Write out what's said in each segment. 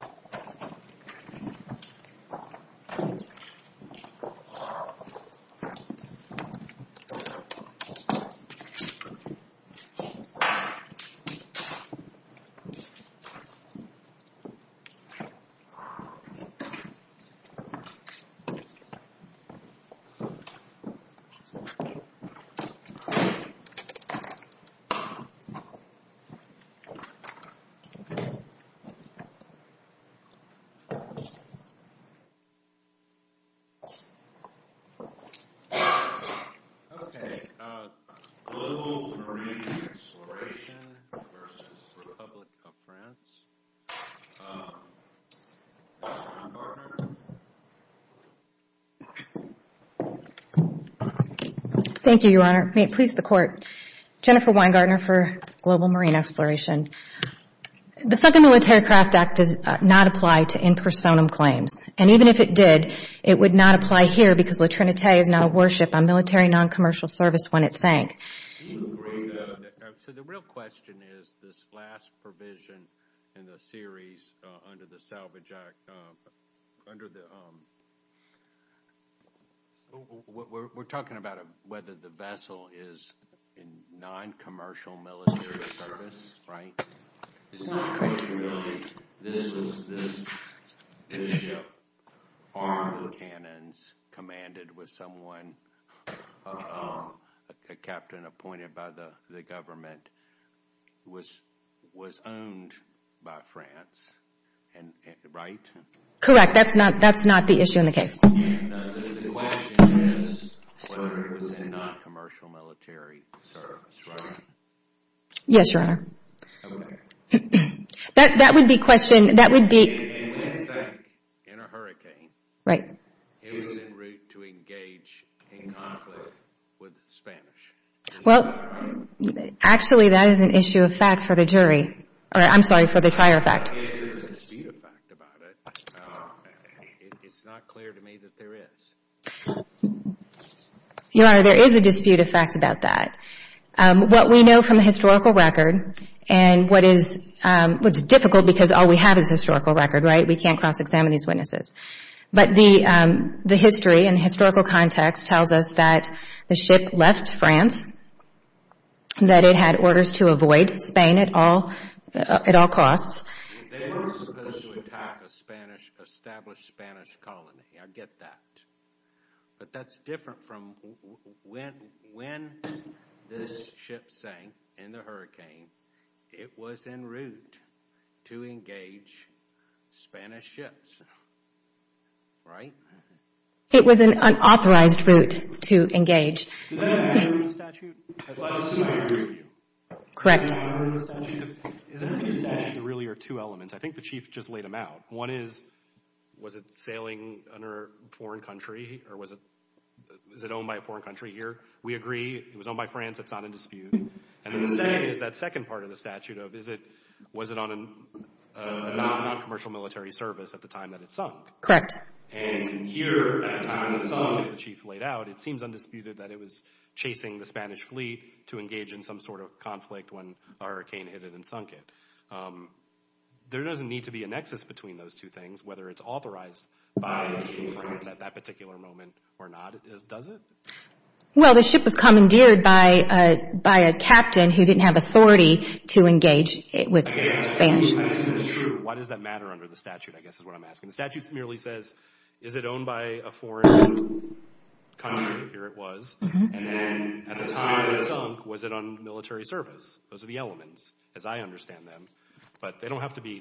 The Republic of Guinea has a Thank you, Your Honor. May it please the Court. Jennifer Weingardner for Global Marine Exploration. The Second Military Craft Act does not apply to in personam claims, and even if it did, it would not apply here because La Trinitae is not a warship on military non-commercial service when it sank. So the real question is, this last provision in the series under the Salvage Act, we're talking about whether the vessel is in non-commercial military service, right? It's not. This ship, armed with cannons, commanded with someone, a captain appointed by the government, was owned by France, right? Correct. That's not the issue in the case. And the question is whether it was in non-commercial military service, right? Yes, Your Honor. Okay. That would be a question, that would be... It sank in a hurricane. Right. It was en route to engage in conflict with the Spanish. Well, actually, that is an issue of fact for the jury. I'm sorry, for the trier of fact. There is a dispute of fact about it. It's not clear to me that there is. Your Honor, there is a dispute of fact about that. What we know from the historical record and what is difficult because all we have is historical record, right? We can't cross-examine these witnesses. But the history and historical context tells us that the ship left France, that it had orders to avoid Spain at all costs. They were supposed to attack an established Spanish colony. I get that. But that's different from when this ship sank in the hurricane. It was en route to engage Spanish ships. Right? It was an unauthorized route to engage. Does that have to do with the statute? Correct. Does that have to do with the statute? There really are two elements. I think the Chief just laid them out. One is, was it sailing under a foreign country or was it owned by a foreign country here? We agree. It was owned by France. It's not in dispute. And then the second is that second part of the statute of, was it on a non-commercial military service at the time that it sank? Correct. And here, at the time it sank, as the Chief laid out, it seems undisputed that it was chasing the Spanish fleet to engage in some sort of conflict when the hurricane hit it and sunk it. There doesn't need to be a nexus between those two things, whether it's authorized by the King of France at that particular moment or not, does it? Well, the ship was commandeered by a captain who didn't have authority to engage with Spanish. Why does that matter under the statute, I guess, is what I'm asking. The statute merely says, is it owned by a foreign country? Here it was. And then at the time it sank, was it on military service? Those are the elements, as I understand them. But they don't have to be,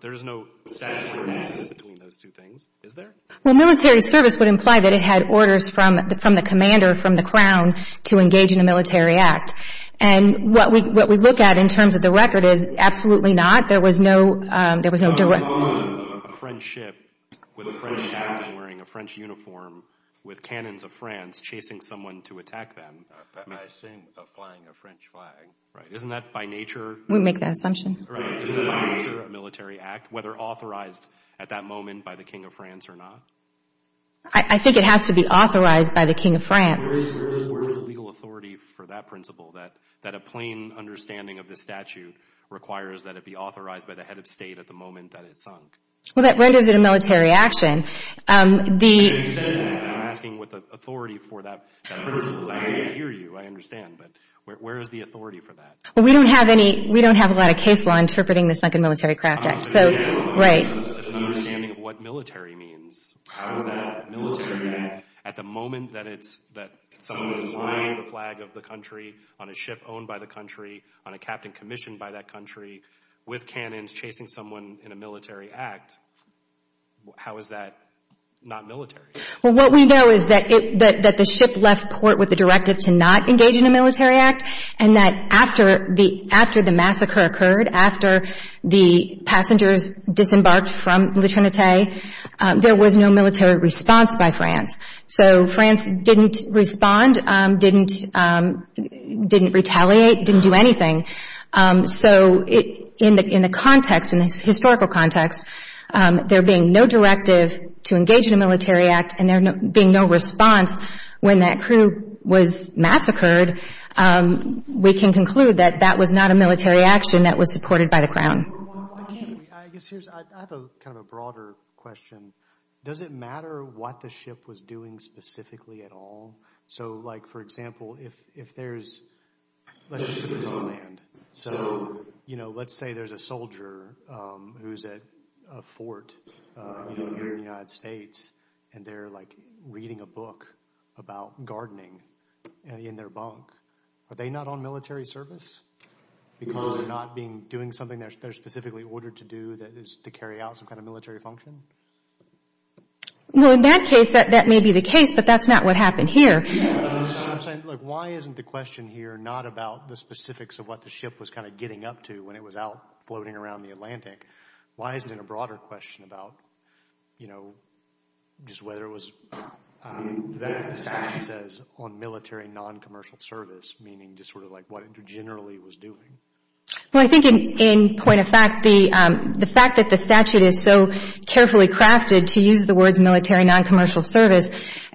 there's no statutory nexus between those two things, is there? Well, military service would imply that it had orders from the commander, from the crown, to engage in a military act. And what we look at in terms of the record is absolutely not. There was no direct... A French ship with a French captain wearing a French uniform with cannons of France chasing someone to attack them. I think of flying a French flag. Right. Isn't that by nature... We make that assumption. Right. Isn't that by nature a military act, whether authorized at that moment by the King of France or not? I think it has to be authorized by the King of France. Where is the legal authority for that principle, that a plain understanding of the statute requires that it be authorized by the head of state at the moment that it sank? Well, that renders it a military action. I'm asking what the authority for that principle is. I hear you. I understand. But where is the authority for that? We don't have a lot of case law interpreting the Sunken Military Craft Act. Right. It's an understanding of what military means. How is that military? At the moment that someone is flying the flag of the country on a ship owned by the country, on a captain commissioned by that country, with cannons, chasing someone in a military act, how is that not military? Well, what we know is that the ship left port with the directive to not engage in a military act, and that after the massacre occurred, after the passengers disembarked from Le Trinité, there was no military response by France. So France didn't respond, didn't retaliate, didn't do anything. So in the context, in the historical context, there being no directive to engage in a military act and there being no response when that crew was massacred, we can conclude that that was not a military action that was supported by the Crown. I have kind of a broader question. Does it matter what the ship was doing specifically at all? So like, for example, if there's, let's say there's a soldier who's at a fort in the United States and they're like reading a book about gardening in their bunk, are they not on military service? Because they're not doing something they're specifically ordered to do that is to carry out some kind of military function? Well, in that case, that may be the case, but that's not what happened here. Why isn't the question here not about the specifics of what the ship was kind of getting up to when it was out floating around the Atlantic? Why isn't it a broader question about, you know, just whether it was, the statute says, on military non-commercial service, meaning just sort of like what it generally was doing? Well, I think in point of fact, the fact that the statute is so carefully crafted to use the words military non-commercial service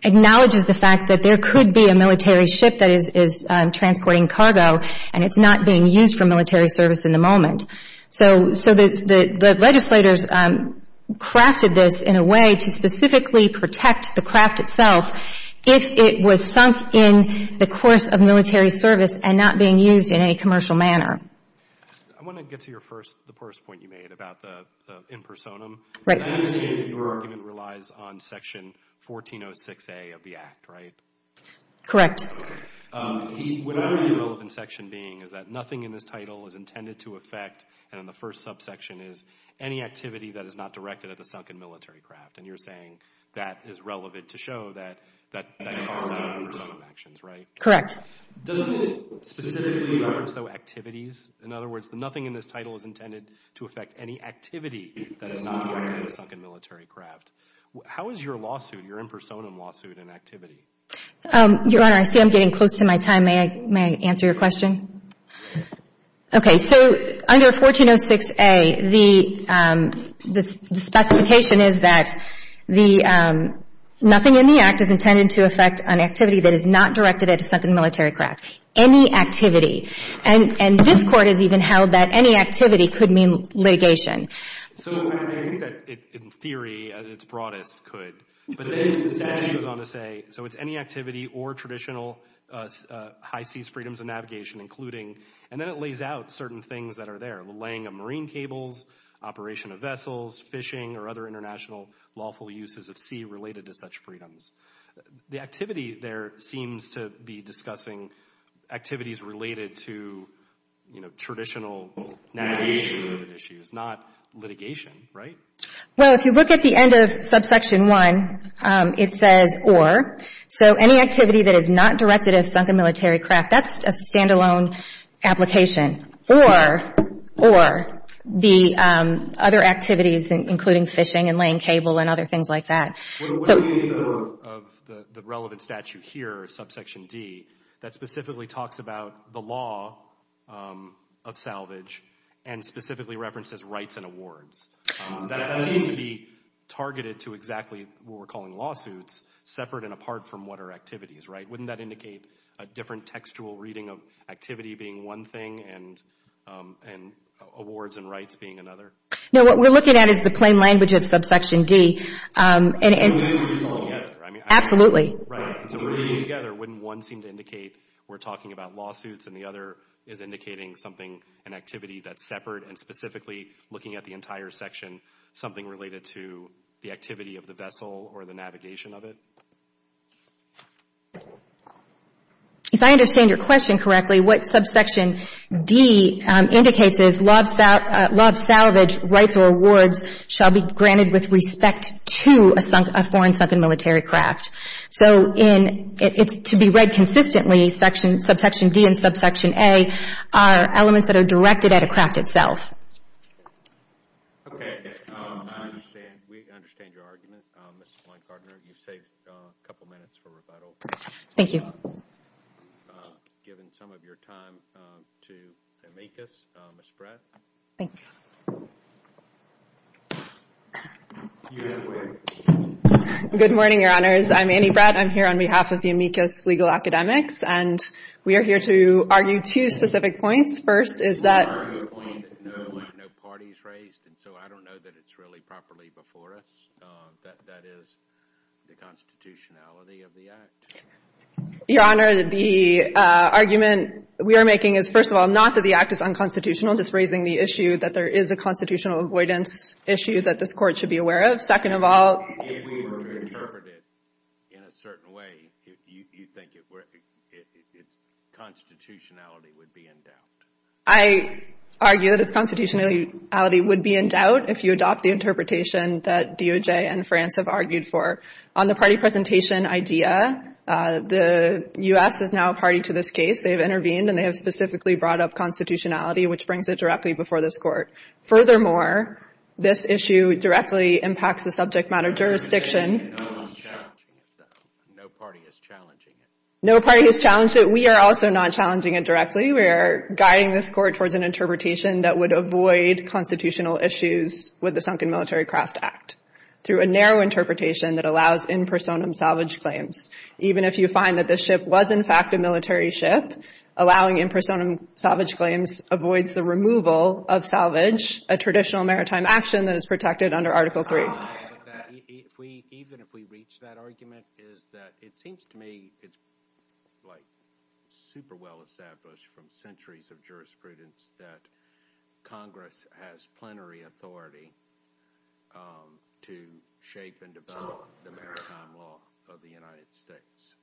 acknowledges the fact that there could be a military ship that is transporting cargo and it's not being used for military service in the moment. So the legislators crafted this in a way to specifically protect the craft itself if it was sunk in the course of military service and not being used in any commercial manner. I want to get to your first, the first point you made about the impersonum. Right. I understand your argument relies on Section 1406A of the Act, right? Correct. Whatever the relevant section being is that nothing in this title is intended to affect, and in the first subsection is, any activity that is not directed at the sunken military craft. And you're saying that is relevant to show that that comes out of impersonum actions, right? Correct. Doesn't it specifically reference, though, activities? In other words, nothing in this title is intended to affect any activity that is not directed at the sunken military craft. How is your lawsuit, your impersonum lawsuit, an activity? Your Honor, I see I'm getting close to my time. May I answer your question? Okay. So under 1406A, the specification is that nothing in the Act is intended to affect an activity that is not directed at a sunken military craft. Any activity, and this Court has even held that any activity could mean litigation. So I think that in theory, at its broadest, could. But then the statute goes on to say, so it's any activity or traditional high seas freedoms of navigation, including, and then it lays out certain things that are there, the laying of marine cables, operation of vessels, fishing, or other international lawful uses of sea related to such freedoms. The activity there seems to be discussing activities related to, you know, traditional navigation related issues, not litigation, right? Well, if you look at the end of subsection 1, it says or. So any activity that is not directed at a sunken military craft, that's a standalone application. Or the other activities, including fishing and laying cable and other things like that. What do we mean of the relevant statute here, subsection D, that specifically talks about the law of salvage and specifically references rights and awards? That seems to be targeted to exactly what we're calling lawsuits, separate and apart from what are activities, right? Wouldn't that indicate a different textual reading of activity being one thing and awards and rights being another? No, what we're looking at is the plain language of subsection D. Absolutely. Wouldn't one seem to indicate we're talking about lawsuits and the other is indicating something, an activity that's separate and specifically looking at the entire section, something related to the activity of the vessel or the navigation of it? If I understand your question correctly, what subsection D indicates is law of salvage rights or awards shall be granted with respect to a foreign sunken military craft. So it's to be read consistently, subsection D and subsection A are elements that are directed at a craft itself. Okay, I understand. We understand your argument. Ms. Blank-Gardner, you've saved a couple minutes for rebuttal. Thank you. Given some of your time to amicus, Ms. Bratt. Thanks. Good morning, your honors. I'm Annie Bratt. I'm here on behalf of the amicus legal academics and we are here to argue two specific points. First is that... No parties raised and so I don't know that it's really properly before us. That is the constitutionality of the act. Your honor, the argument we are making is first of all, not that the act is unconstitutional, just raising the issue that there is a constitutional avoidance issue that this court should be aware of. Second of all... If we were to interpret it in a certain way, you think it's constitutionality would be in doubt. I argue that it's constitutionality would be in doubt if you adopt the interpretation that DOJ and France have argued for. On the party presentation idea, the U.S. is now a party to this case. They have intervened and they have specifically brought up constitutionality which brings it directly before this court. Furthermore, this issue directly impacts the subject matter jurisdiction. No party is challenging it though. No party is challenging it. No party has challenged it. We are also not challenging it directly. We are guiding this court towards an interpretation that would avoid constitutional issues with the Sunken Military Craft Act through a narrow interpretation that allows in personam salvage claims. Even if you find that the ship was in fact a military ship, allowing in personam salvage claims avoids the removal of salvage, a traditional maritime action that is protected under Article 3. Even if we reach that argument, it seems to me it's super well established from centuries of jurisprudence that Congress has plenary authority to shape and develop the maritime law of the United States.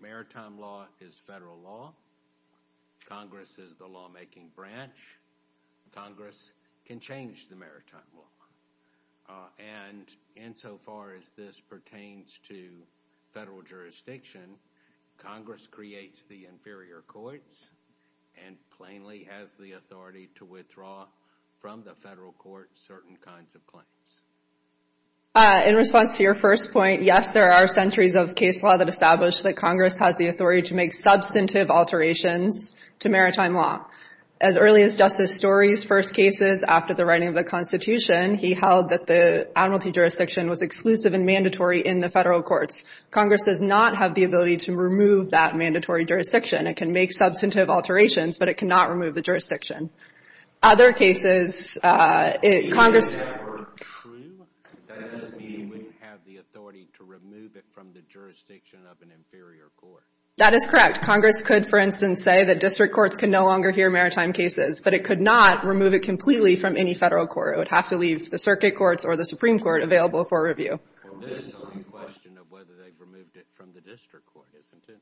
Maritime law is federal law. Congress is the lawmaking branch. Congress can change the maritime law. And insofar as this pertains to federal jurisdiction, Congress creates the inferior courts and plainly has the authority to withdraw from the federal court certain kinds of claims. In response to your first point, yes, there are centuries of case law that establish that Congress has the authority to make substantive alterations to maritime law. As early as Justice Story's first cases after the writing of the Constitution, he held that the admiralty jurisdiction was exclusive and mandatory in the federal courts. Congress does not have the ability to remove that mandatory jurisdiction. It can make substantive alterations, but it cannot remove the jurisdiction. Other cases... If that were true, that doesn't mean you wouldn't have the authority to remove it from the jurisdiction of an inferior court. That is correct. Congress could, for instance, say that district courts can no longer hear maritime cases, but it could not remove it completely from any federal court. It would have to leave the circuit courts or the Supreme Court available for review. And this is only a question of whether they've removed it from the district court, isn't it?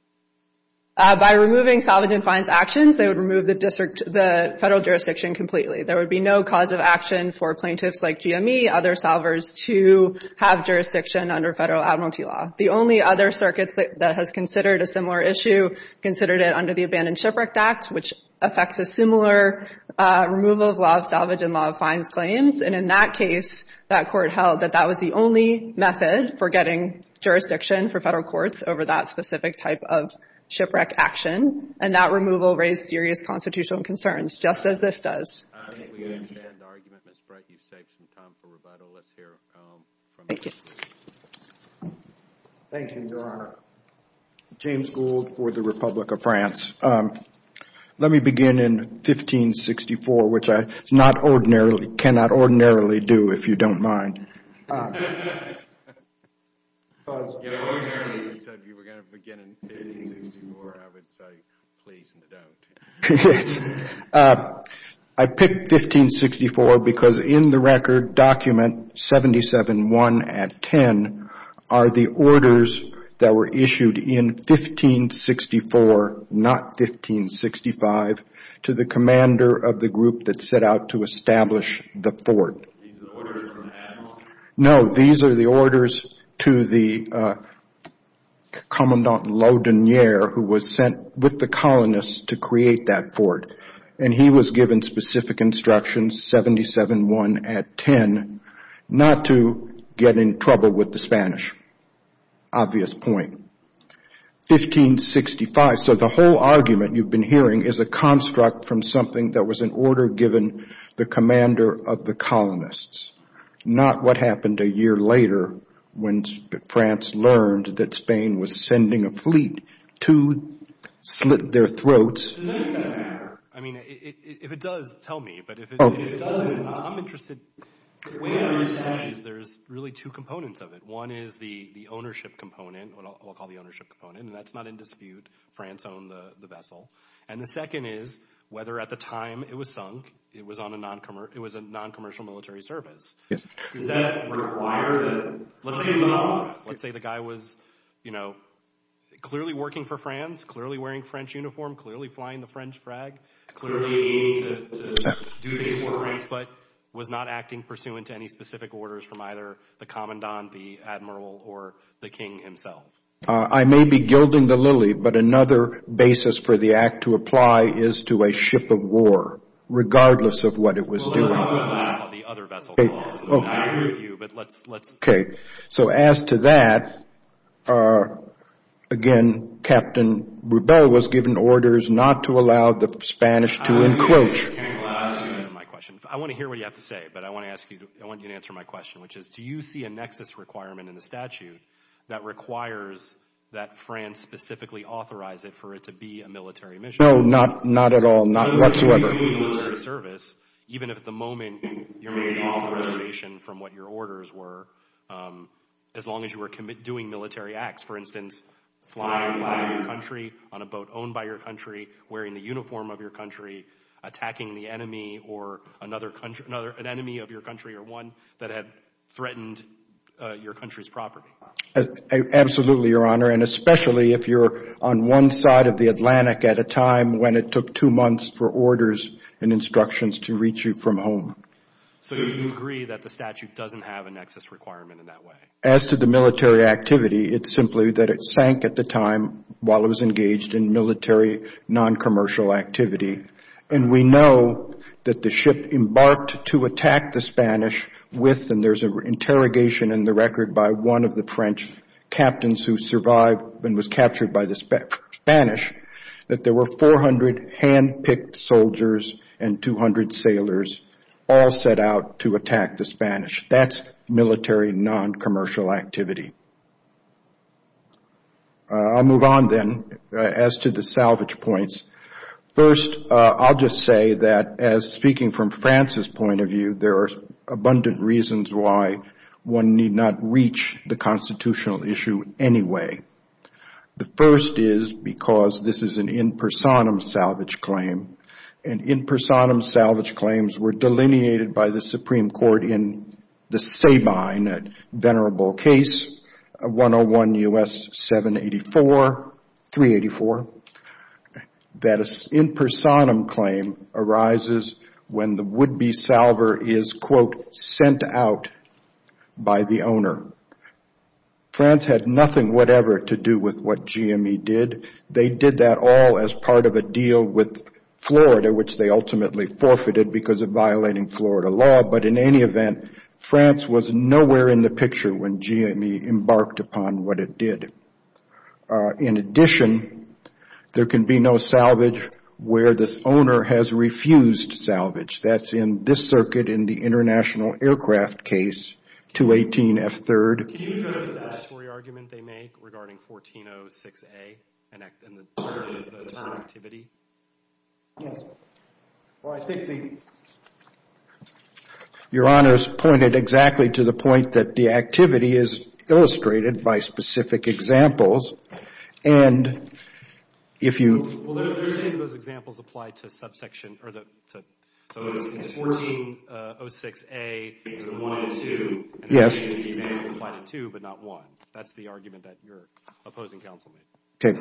By removing salvage and fines actions, they would remove the federal jurisdiction completely. There would be no cause of action for plaintiffs like GME, other salvers to have jurisdiction under federal admiralty law. The only other circuit that has considered a similar issue considered it under the Abandoned Shipwrecked Act, which affects a similar removal of law of salvage and law of fines claims. And in that case, that court held that that was the only method for getting jurisdiction for federal courts over that specific type of shipwreck action. And that removal raised serious constitutional concerns, just as this does. I think we understand the argument, Ms. Bright. You've saved some time for rebuttal. Let's hear from... Thank you. Thank you, Your Honor. James Gould for the Republic of France. Let me begin in 1564, which I not ordinarily, cannot ordinarily do, if you don't mind. I picked 1564 because in the record document, 77-1 at 10, are the orders that were issued in 1564 not 1565, to the commander of the group that set out to establish the fort. These are orders from the admiral? No, these are the orders to the Commandant Laudanier who was sent with the colonists to create that fort. And he was given specific instructions, 77-1 at 10, not to get in trouble with the Spanish. Obvious point. 1565. So the whole argument you've been hearing is a construct from something that was an order given the commander of the colonists. Not what happened a year later when France learned that Spain was sending a fleet to slit their throats. Does any of that matter? I mean, if it does, tell me. But if it doesn't, I'm interested. There's really two components of it. One is the ownership component, what I'll call the ownership component. And that's not in dispute. France owned the vessel. And the second is whether at the time it was sunk, it was a non-commercial military service. Does that require that? Let's say the guy was clearly working for France, clearly wearing French uniform, clearly flying the French frag, clearly aiming to do things for France, but was not acting pursuant to any specific orders from either the commandant, the admiral, or the king himself. I may be gilding the lily, but another basis for the act to apply is to a ship of war, regardless of what it was doing. Let's talk about that. The other vessel. So as to that, again, Captain Rubell was given orders not to allow the Spanish to encroach. I want to hear what you have to say, but I want you to answer my question, which is, do you see a nexus requirement in the statute that requires that France specifically authorize it for it to be a military mission? No, not at all. Not whatsoever. Even if at the moment you're making a reservation from what your orders were, as long as you were doing military acts, for instance, flying your country on a boat owned by your country, wearing the uniform of your country, attacking the enemy of your country or one that had threatened your country's property? Absolutely, Your Honor. And especially if you're on one side of the Atlantic at a time when it took two months for orders and instructions to reach you from home. So you agree that the statute doesn't have a nexus requirement in that way? As to the military activity, it's simply that it sank at the time while it was engaged in military non-commercial activity. And we know that the ship embarked to attack the Spanish with, and there's an interrogation in the record by one of the French captains who survived and was captured by the Spanish, that there were 400 hand-picked soldiers and 200 sailors all set out to attack the Spanish. That's military non-commercial activity. I'll move on then as to the salvage points. First, I'll just say that as speaking from Francis' point of view, there are abundant reasons why one need not reach the constitutional issue anyway. The first is because this is an in personam salvage claim, and in personam salvage claims were delineated by the Supreme Court in the Sabine, a venerable case, 101 U.S. 784, 384, that an in personam claim arises when the would-be salver is quote, sent out by the owner. France had nothing whatever to do with what GME did. They did that all as part of a deal with Florida, which they ultimately forfeited because of violating Florida law, but in any event, France was nowhere in the picture when GME embarked upon what it did. In addition, there can be no salvage where this owner has refused salvage. That's in this circuit in the international aircraft case, 218 F. 3rd. Can you address the statutory argument they make regarding 1406 A and the term activity? Yes. Well, I think the Your Honor's pointed exactly to the point that the activity is illustrated by specific examples, and if you Those examples apply to subsection or the 1406 A 1 and 2 Yes. That's the argument that your opposing counsel made.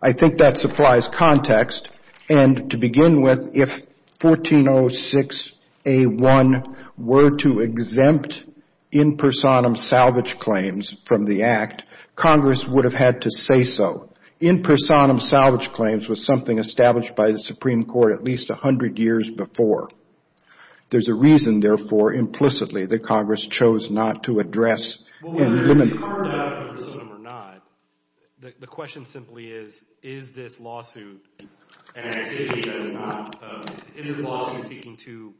I think that supplies context, and to begin with, if 1406 A 1 were to exempt in personam salvage claims from the Act, Congress would have had to say so. In personam salvage claims was something established by the Supreme Court at least a hundred years before. There's a reason, therefore, implicitly that Congress chose not to address Well, whether it be covered up in personam or not, the question simply is is this lawsuit an activity that is not is this lawsuit seeking to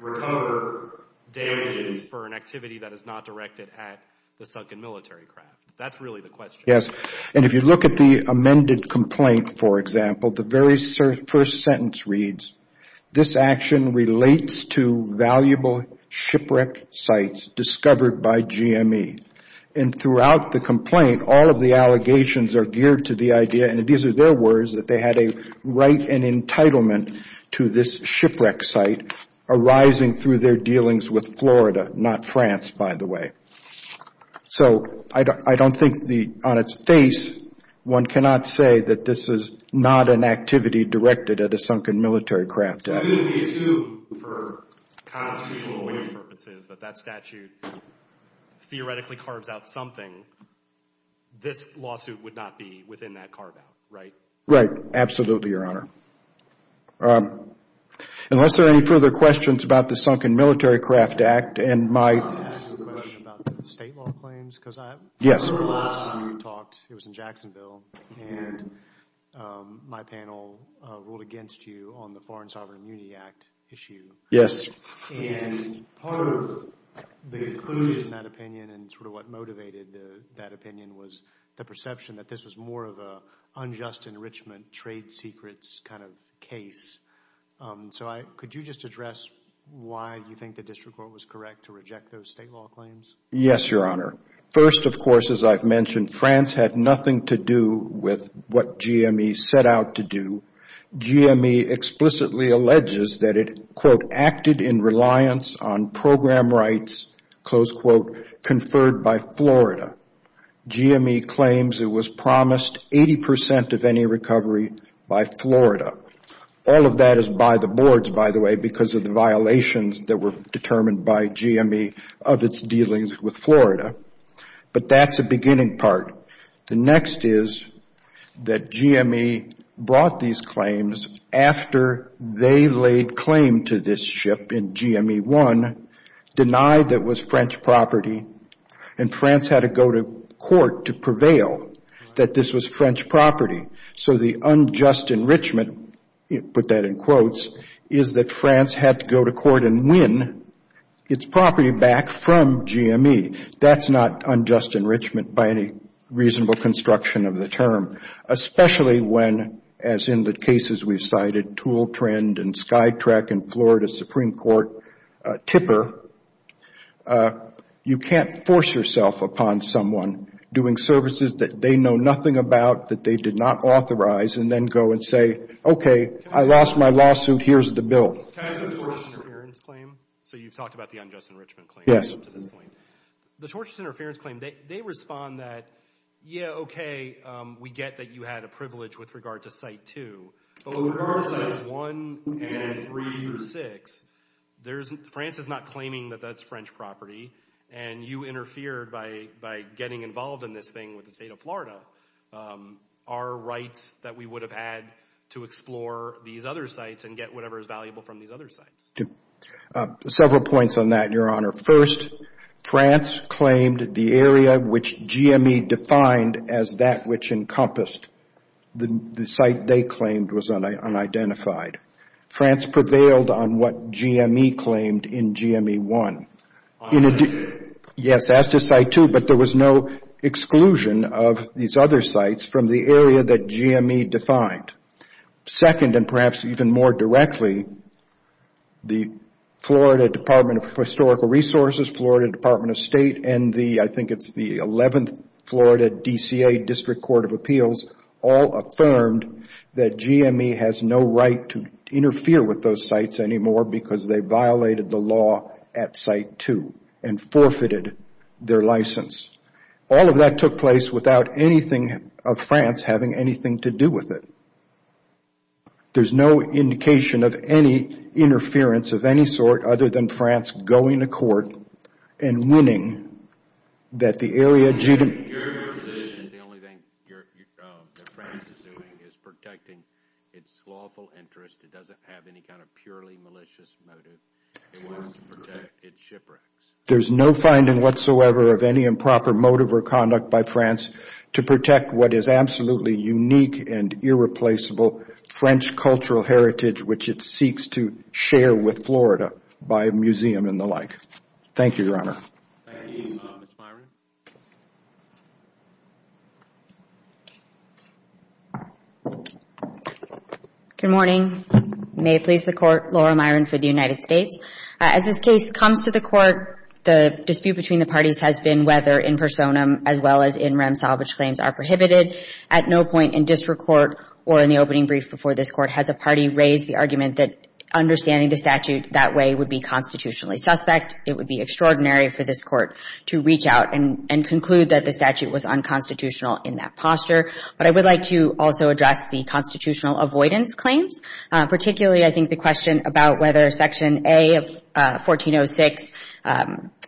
recover damages for an activity that is not directed at the sunken military craft? That's really the question. And if you look at the amended complaint, for example, the very first sentence reads, this action relates to valuable shipwreck sites discovered by GME. And throughout the complaint, all of the allegations are geared to the idea, and these are their words, that they had a right and entitlement to this shipwreck site arising through their dealings with Florida, not France, by the way. So, I don't think on its face one cannot say that this is not an activity directed at a sunken military craft. So you would assume, for constitutional purposes, that that statute theoretically carves out something this lawsuit would not be within that bar about, right? Right. Absolutely, Unless there are any further questions about the Sunken Military Craft Act and my... I wanted to ask a question about the state law claims, because I realized when you talked, it was in Jacksonville, and my panel ruled against you on the Foreign Sovereign Immunity Act issue. Yes. And part of the conclusions in that opinion and sort of what motivated that opinion was the perception that this was more of a unjust enrichment, trade secrets kind of case. So, could you just address why you think the district court was correct to reject those state law claims? Yes, Your Honor. First, of course, as I've mentioned, France had nothing to do with what GME set out to do. GME explicitly alleges that it, quote, acted in reliance on program rights, close quote, conferred by Florida. GME claims it was promised 80% of any recovery by Florida. All of that is by the boards, by the way, because of the violations that were determined by GME of its dealings with Florida. But that's the beginning part. The next is that GME brought these claims after they laid claim to this ship in GME 1, denied that it was France had to go to court to prevail that this was French property. So the unjust enrichment, put that in quotes, is that France had to go to court and win its property back from GME. That's not unjust enrichment by any reasonable construction of the term, especially when as in the cases we've cited, tool trend and sky track in Florida Supreme Court tipper, you can't force yourself upon someone doing services that they know nothing about, that they did not authorize, and then go and say, okay, I lost my lawsuit, here's the bill. Can I go to the tortious interference claim? So you've talked about the unjust enrichment claim. Yes. The tortious interference claim, they respond that, yeah, okay, we get that you had a privilege with regard to Site 2, but with regards to Sites 1 and 3 through 6, France is not claiming that that's French property, and you interfered by getting involved in this thing with the state of Florida. Are rights that we would have had to explore these other sites and get whatever is valuable from these other sites? Several points on that, Your Honor. First, France claimed the area which GME defined as that which encompassed the site they claimed was unidentified. France prevailed on what GME claimed in GME 1. Yes, as to Site 2, but there was no exclusion of these other sites from the area that GME defined. Second, and perhaps even more directly, the Florida Department of Historical Resources, Florida Department of State, and the, I think it's the 11th Florida DCA District Court of Appeals, all affirmed that GME has no right to interfere with those sites anymore because they violated the law at Site 2 and forfeited their license. All of that took place without anything of France having anything to do with it. There's no indication of any interference of any sort other than France going to court and winning that the area... Your position is the only thing that France is doing is protecting its lawful interest. It doesn't have any kind of purely malicious motive. It wants to protect its shipwrecks. There's no finding whatsoever of any improper motive or conduct by France to protect what is absolutely unique and irreplaceable French cultural heritage which it seeks to share with Florida by museum and the like. Thank you, Your Honor. Thank you. Good morning. May it please the Court. Laura Myron for the United States. As this case comes to the Court, the dispute between the parties has been whether in personam as well as in rem salvage claims are prohibited. At no point in district court or in the opening brief before this Court has a party raise the argument that understanding the statute that way would be constitutionally suspect. It would be extraordinary for this Court to reach out and conclude that the statute was unconstitutional in that posture. But I would like to also address the constitutional avoidance claims, particularly I think the question about whether section A of 1406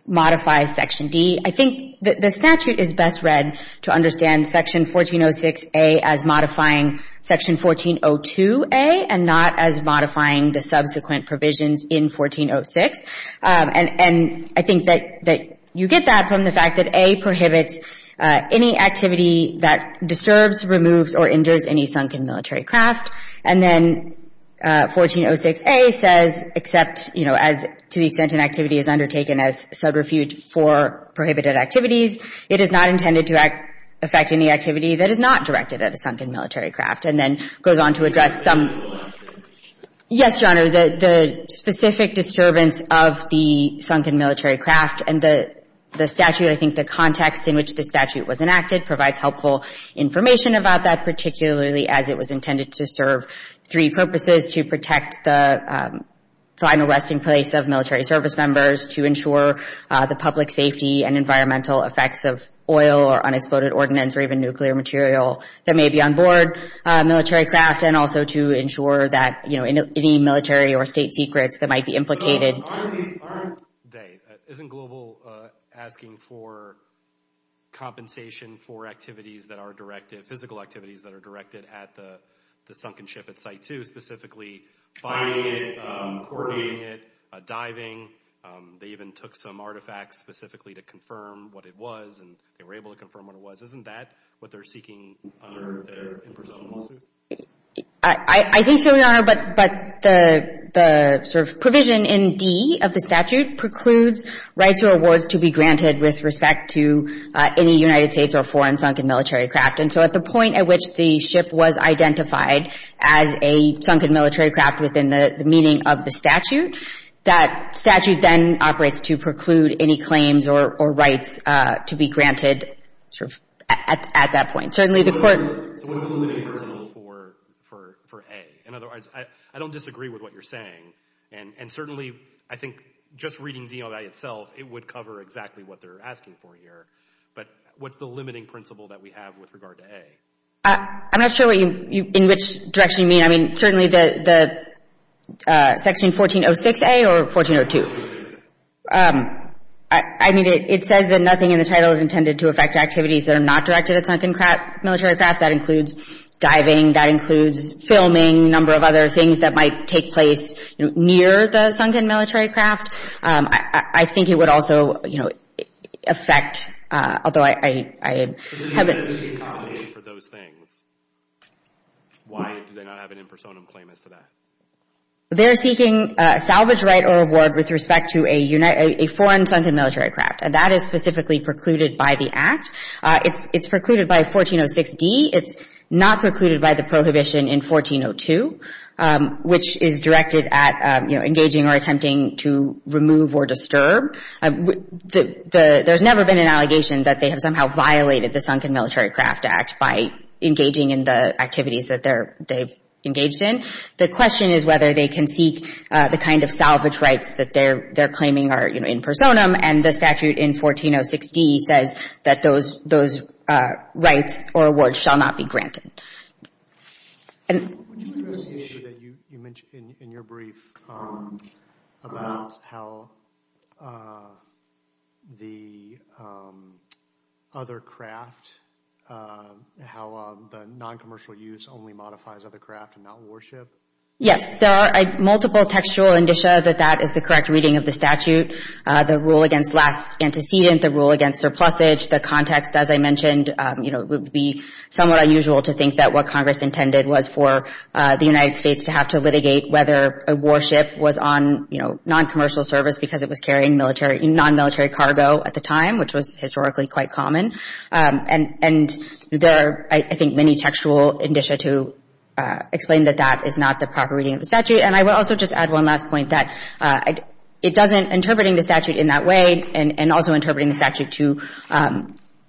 modifies section D. I think the statute is best read to understand section 1406A as modifying section 1402A and not as modifying the subsequent provisions in 1406. And I think that you get that from the fact that A prohibits any activity that disturbs, removes, or injures any sunken military craft. And then 1406A says except, you know, as to the extent an activity is undertaken as subrefuge for prohibited activities, it is not intended to affect any activity that is not directed at a sunken military craft, and then goes on to address some Yes, Your Honor. The specific disturbance of the sunken military craft, and the statute, I think the context in which the statute was enacted provides helpful information about that, particularly as it was intended to serve three purposes, to protect the final resting place of military service members, to ensure the public safety and environmental effects of oil or unexploded ordnance or even nuclear material that may be on board military craft, and also to ensure that, you know, any military or state secrets that might be implicated Aren't they? Isn't Global asking for compensation for activities that are directed, physical activities that are directed at the sunken ship at Site 2 specifically finding it, coordinating it, diving, they even took some artifacts specifically to confirm what it was, and they were able to confirm what it was. Isn't that what they're seeking under their impersonal lawsuit? I think so, Your Honor, but the sort of provision in D of the statute precludes rights or awards to be granted with respect to any United States or foreign sunken military craft and so at the point at which the ship was identified as a sunken military craft within the meaning of the statute, that statute then operates to preclude any claims or rights to be granted at that point. Certainly the court So what's the limiting principle for A? In other words, I don't disagree with what you're saying, and certainly, I think, just reading DOI itself, it would cover exactly what they're asking for here, but what's the limiting principle that we have with regard to A? I'm not sure what you in which direction you mean. I mean, certainly the section 1406A or 1402? I mean, it says that nothing in the title is intended to affect activities that are not directed at sunken military craft. That includes filming, a number of other things that might take place near the sunken military craft. I think it would also affect, although I haven't for those things. Why do they not have an impersonum claim as to that? They're seeking salvage right or award with respect to a foreign sunken military craft, and that is specifically precluded by the Act. It's precluded by 1406D. It's not precluded by the prohibition in 1402, which is directed at engaging or attempting to remove or disturb. There's never been an allegation that they have somehow violated the Sunken Military Craft Act by engaging in the activities that they've engaged in. The question is whether they can seek the kind of salvage rights that they're claiming are in personam, and the statute in 1406D says that those rights or awards shall not be granted. Would you address the issue that you mentioned in your brief about how the other craft, how the noncommercial use only modifies other craft and not warship? Yes. There are multiple textual indicia that that is the correct reading of the statute. The rule against last antecedent, the rule against surplusage, the context, as I mentioned, would be somewhat unusual to think that what Congress intended was for the United States to have to litigate whether a warship was on noncommercial service because it was carrying nonmilitary cargo at the time, which was historically quite common. And there are, I think, many textual indicia to explain that that is not the proper reading of the statute. And I would also just add one last point that interpreting the statute in that way and also interpreting the statute to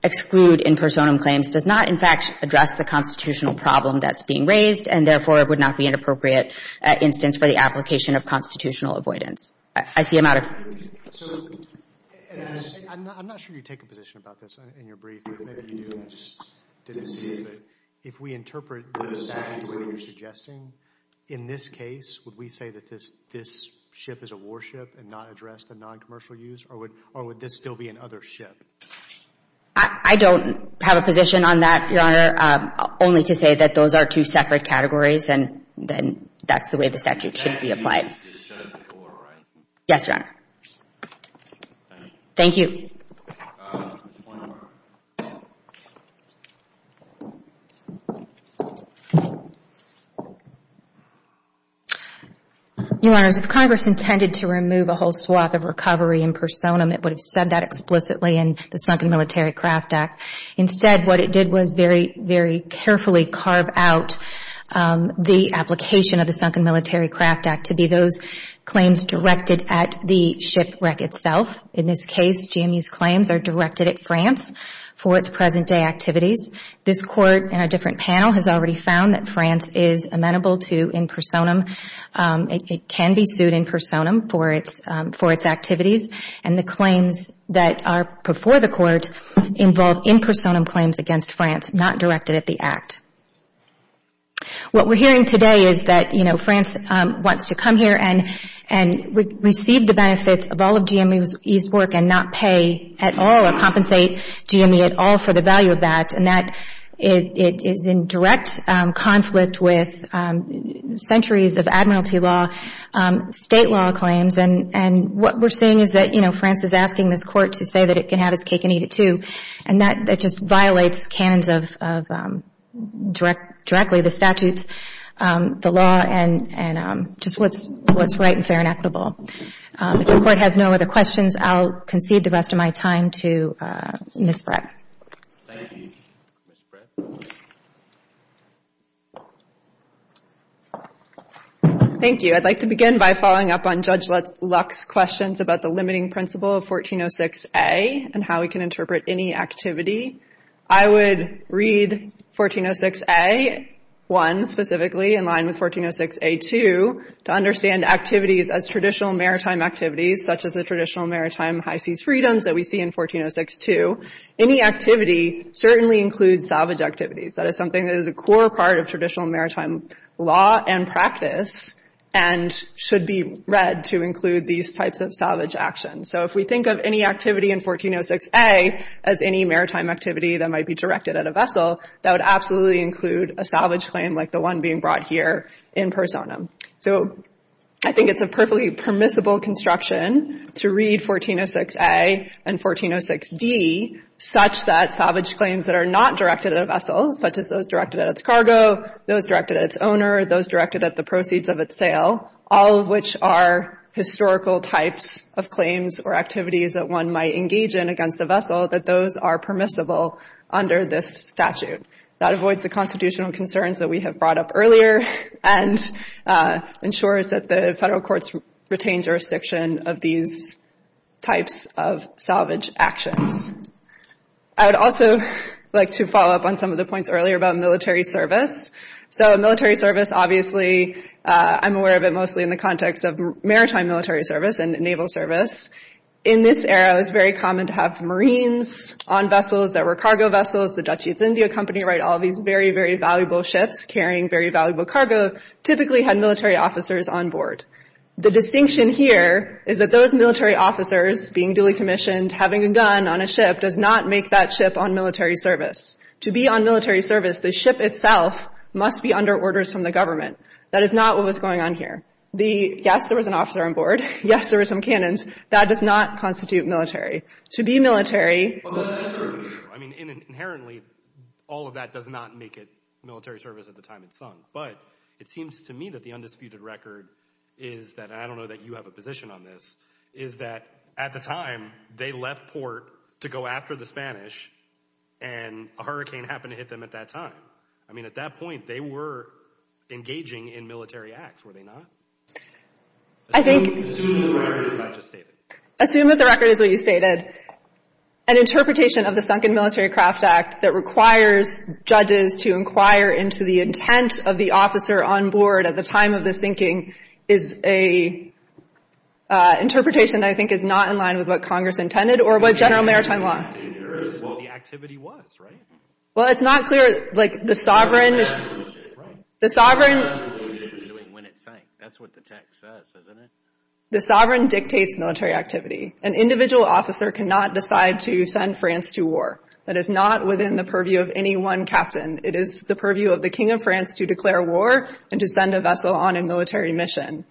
exclude in personam claims does not, in fact, address the constitutional problem that's being raised and, therefore, it would not be an appropriate instance for the application of constitutional avoidance. I see a matter. I'm not sure you take a position about this in your brief. Maybe you do. I just didn't see it. If we interpret the statute the way you're suggesting, in this case, would we say that this ship is a warship and not address the noncommercial use or would this still be another ship? I don't have a position on that, Your Honor, only to say that those are two separate categories and then that's the way the statute should be applied. Yes, Your Honor. Thank you. One more. Your Honors, if Congress intended to remove a whole swath of recovery in personam, it would have said that explicitly in the Sunken Military Craft Act. Instead, what it did was very, very carefully carve out the application of the Sunken Military Craft Act to be those claims directed at the shipwreck itself. In this case, GMU's claims are directed at France for its present day activities. This Court in a different panel has already found that France is amenable to in personam. It can be sued in personam for its activities and the claims that are before the Court involve in personam claims against France, not directed at the Act. What we're hearing today is that France wants to come here and receive the benefits of all of GME's work and not pay at all or compensate GME at all for the value of that and that it is in direct conflict with centuries of admiralty law, state law claims and what we're seeing is that France is asking this Court to say that it can have its cake and eat it too. That just violates canons of directly the statutes, the law and just what's right and fair and equitable. If the Court has no other questions, I'll concede the rest of my time to Ms. Brett. Thank you, Ms. Brett. Thank you. I'd like to begin by following up on Judge Luck's questions about the limiting principle of 1406A and how we can interpret any activity. I would read 1406A 1 specifically in line with 1406A2 to understand activities as traditional maritime activities such as the traditional maritime high seas freedoms that we see in 14062. Any activity certainly includes salvage activities. That is something that is a core part of traditional maritime law and practice and should be read to include these types of salvage actions. If we think of any activity in 1406A as any maritime activity that might be directed at a vessel that would absolutely include a salvage claim like the one being brought here in personam. I think it's a perfectly permissible construction to read 1406A and 1406D such that salvage claims that are not directed at a vessel, such as those directed at its cargo, those directed at its owner, those directed at the proceeds of its sale, all of which are historical types of claims or activities that one might engage in against a vessel, that those are permissible under this statute. That avoids the constitutional concerns that we have brought up earlier and ensures that the federal courts retain jurisdiction of these types of salvage actions. I would also like to follow up on some of the points earlier about military service. Military service, obviously, I'm aware of it mostly in the context of maritime military service and naval service. In this era, it was very common to have Marines on vessels that were cargo vessels. The Dutch East India Company, all these very, very valuable ships carrying very valuable cargo typically had military officers on board. The distinction here is that those military officers being duly commissioned, having a gun on a ship, does not make that ship on military service. To be on military service, the ship itself must be under orders from the government. That is not what was going on here. Yes, there was an officer on board. Yes, there were some cannons. That does not constitute military. To be military... I mean, inherently, all of that does not make it military service at the time it sunk, but it seems to me that the undisputed record is that, and I don't know that you have a position on this, is that at the time they left port to go after the Spanish and a hurricane happened to hit them at that time. I mean, at that point, they were engaging in military acts, were they not? Assume that the record is what I just stated. Assume that the record is what you stated. An interpretation of the Sunken Military Craft Act that requires judges to inquire into the intent of the officer on board at the time of the sinking is a interpretation that I think is not in line with what Congress intended or what General Maritime Law... Well, it's not clear like the sovereign... The sovereign... That's what the text says, isn't it? The sovereign dictates military activity. An individual officer cannot decide to send France to war. That is not within the purview of any one captain. It is the purview of the King of France to declare war and to send a vessel on a military mission.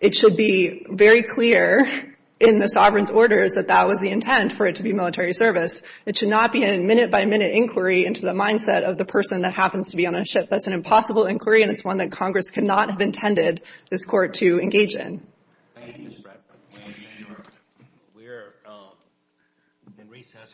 It should be very clear in the sovereign's orders that that was the intent for it to be military service. It should not be a minute-by-minute inquiry into the mindset of the person that happens to be on a ship. That's an impossible inquiry, and it's one that Congress could not have intended this Court to engage in. Thank you, Ms. Bradford. We're in recess until tomorrow. Thank you.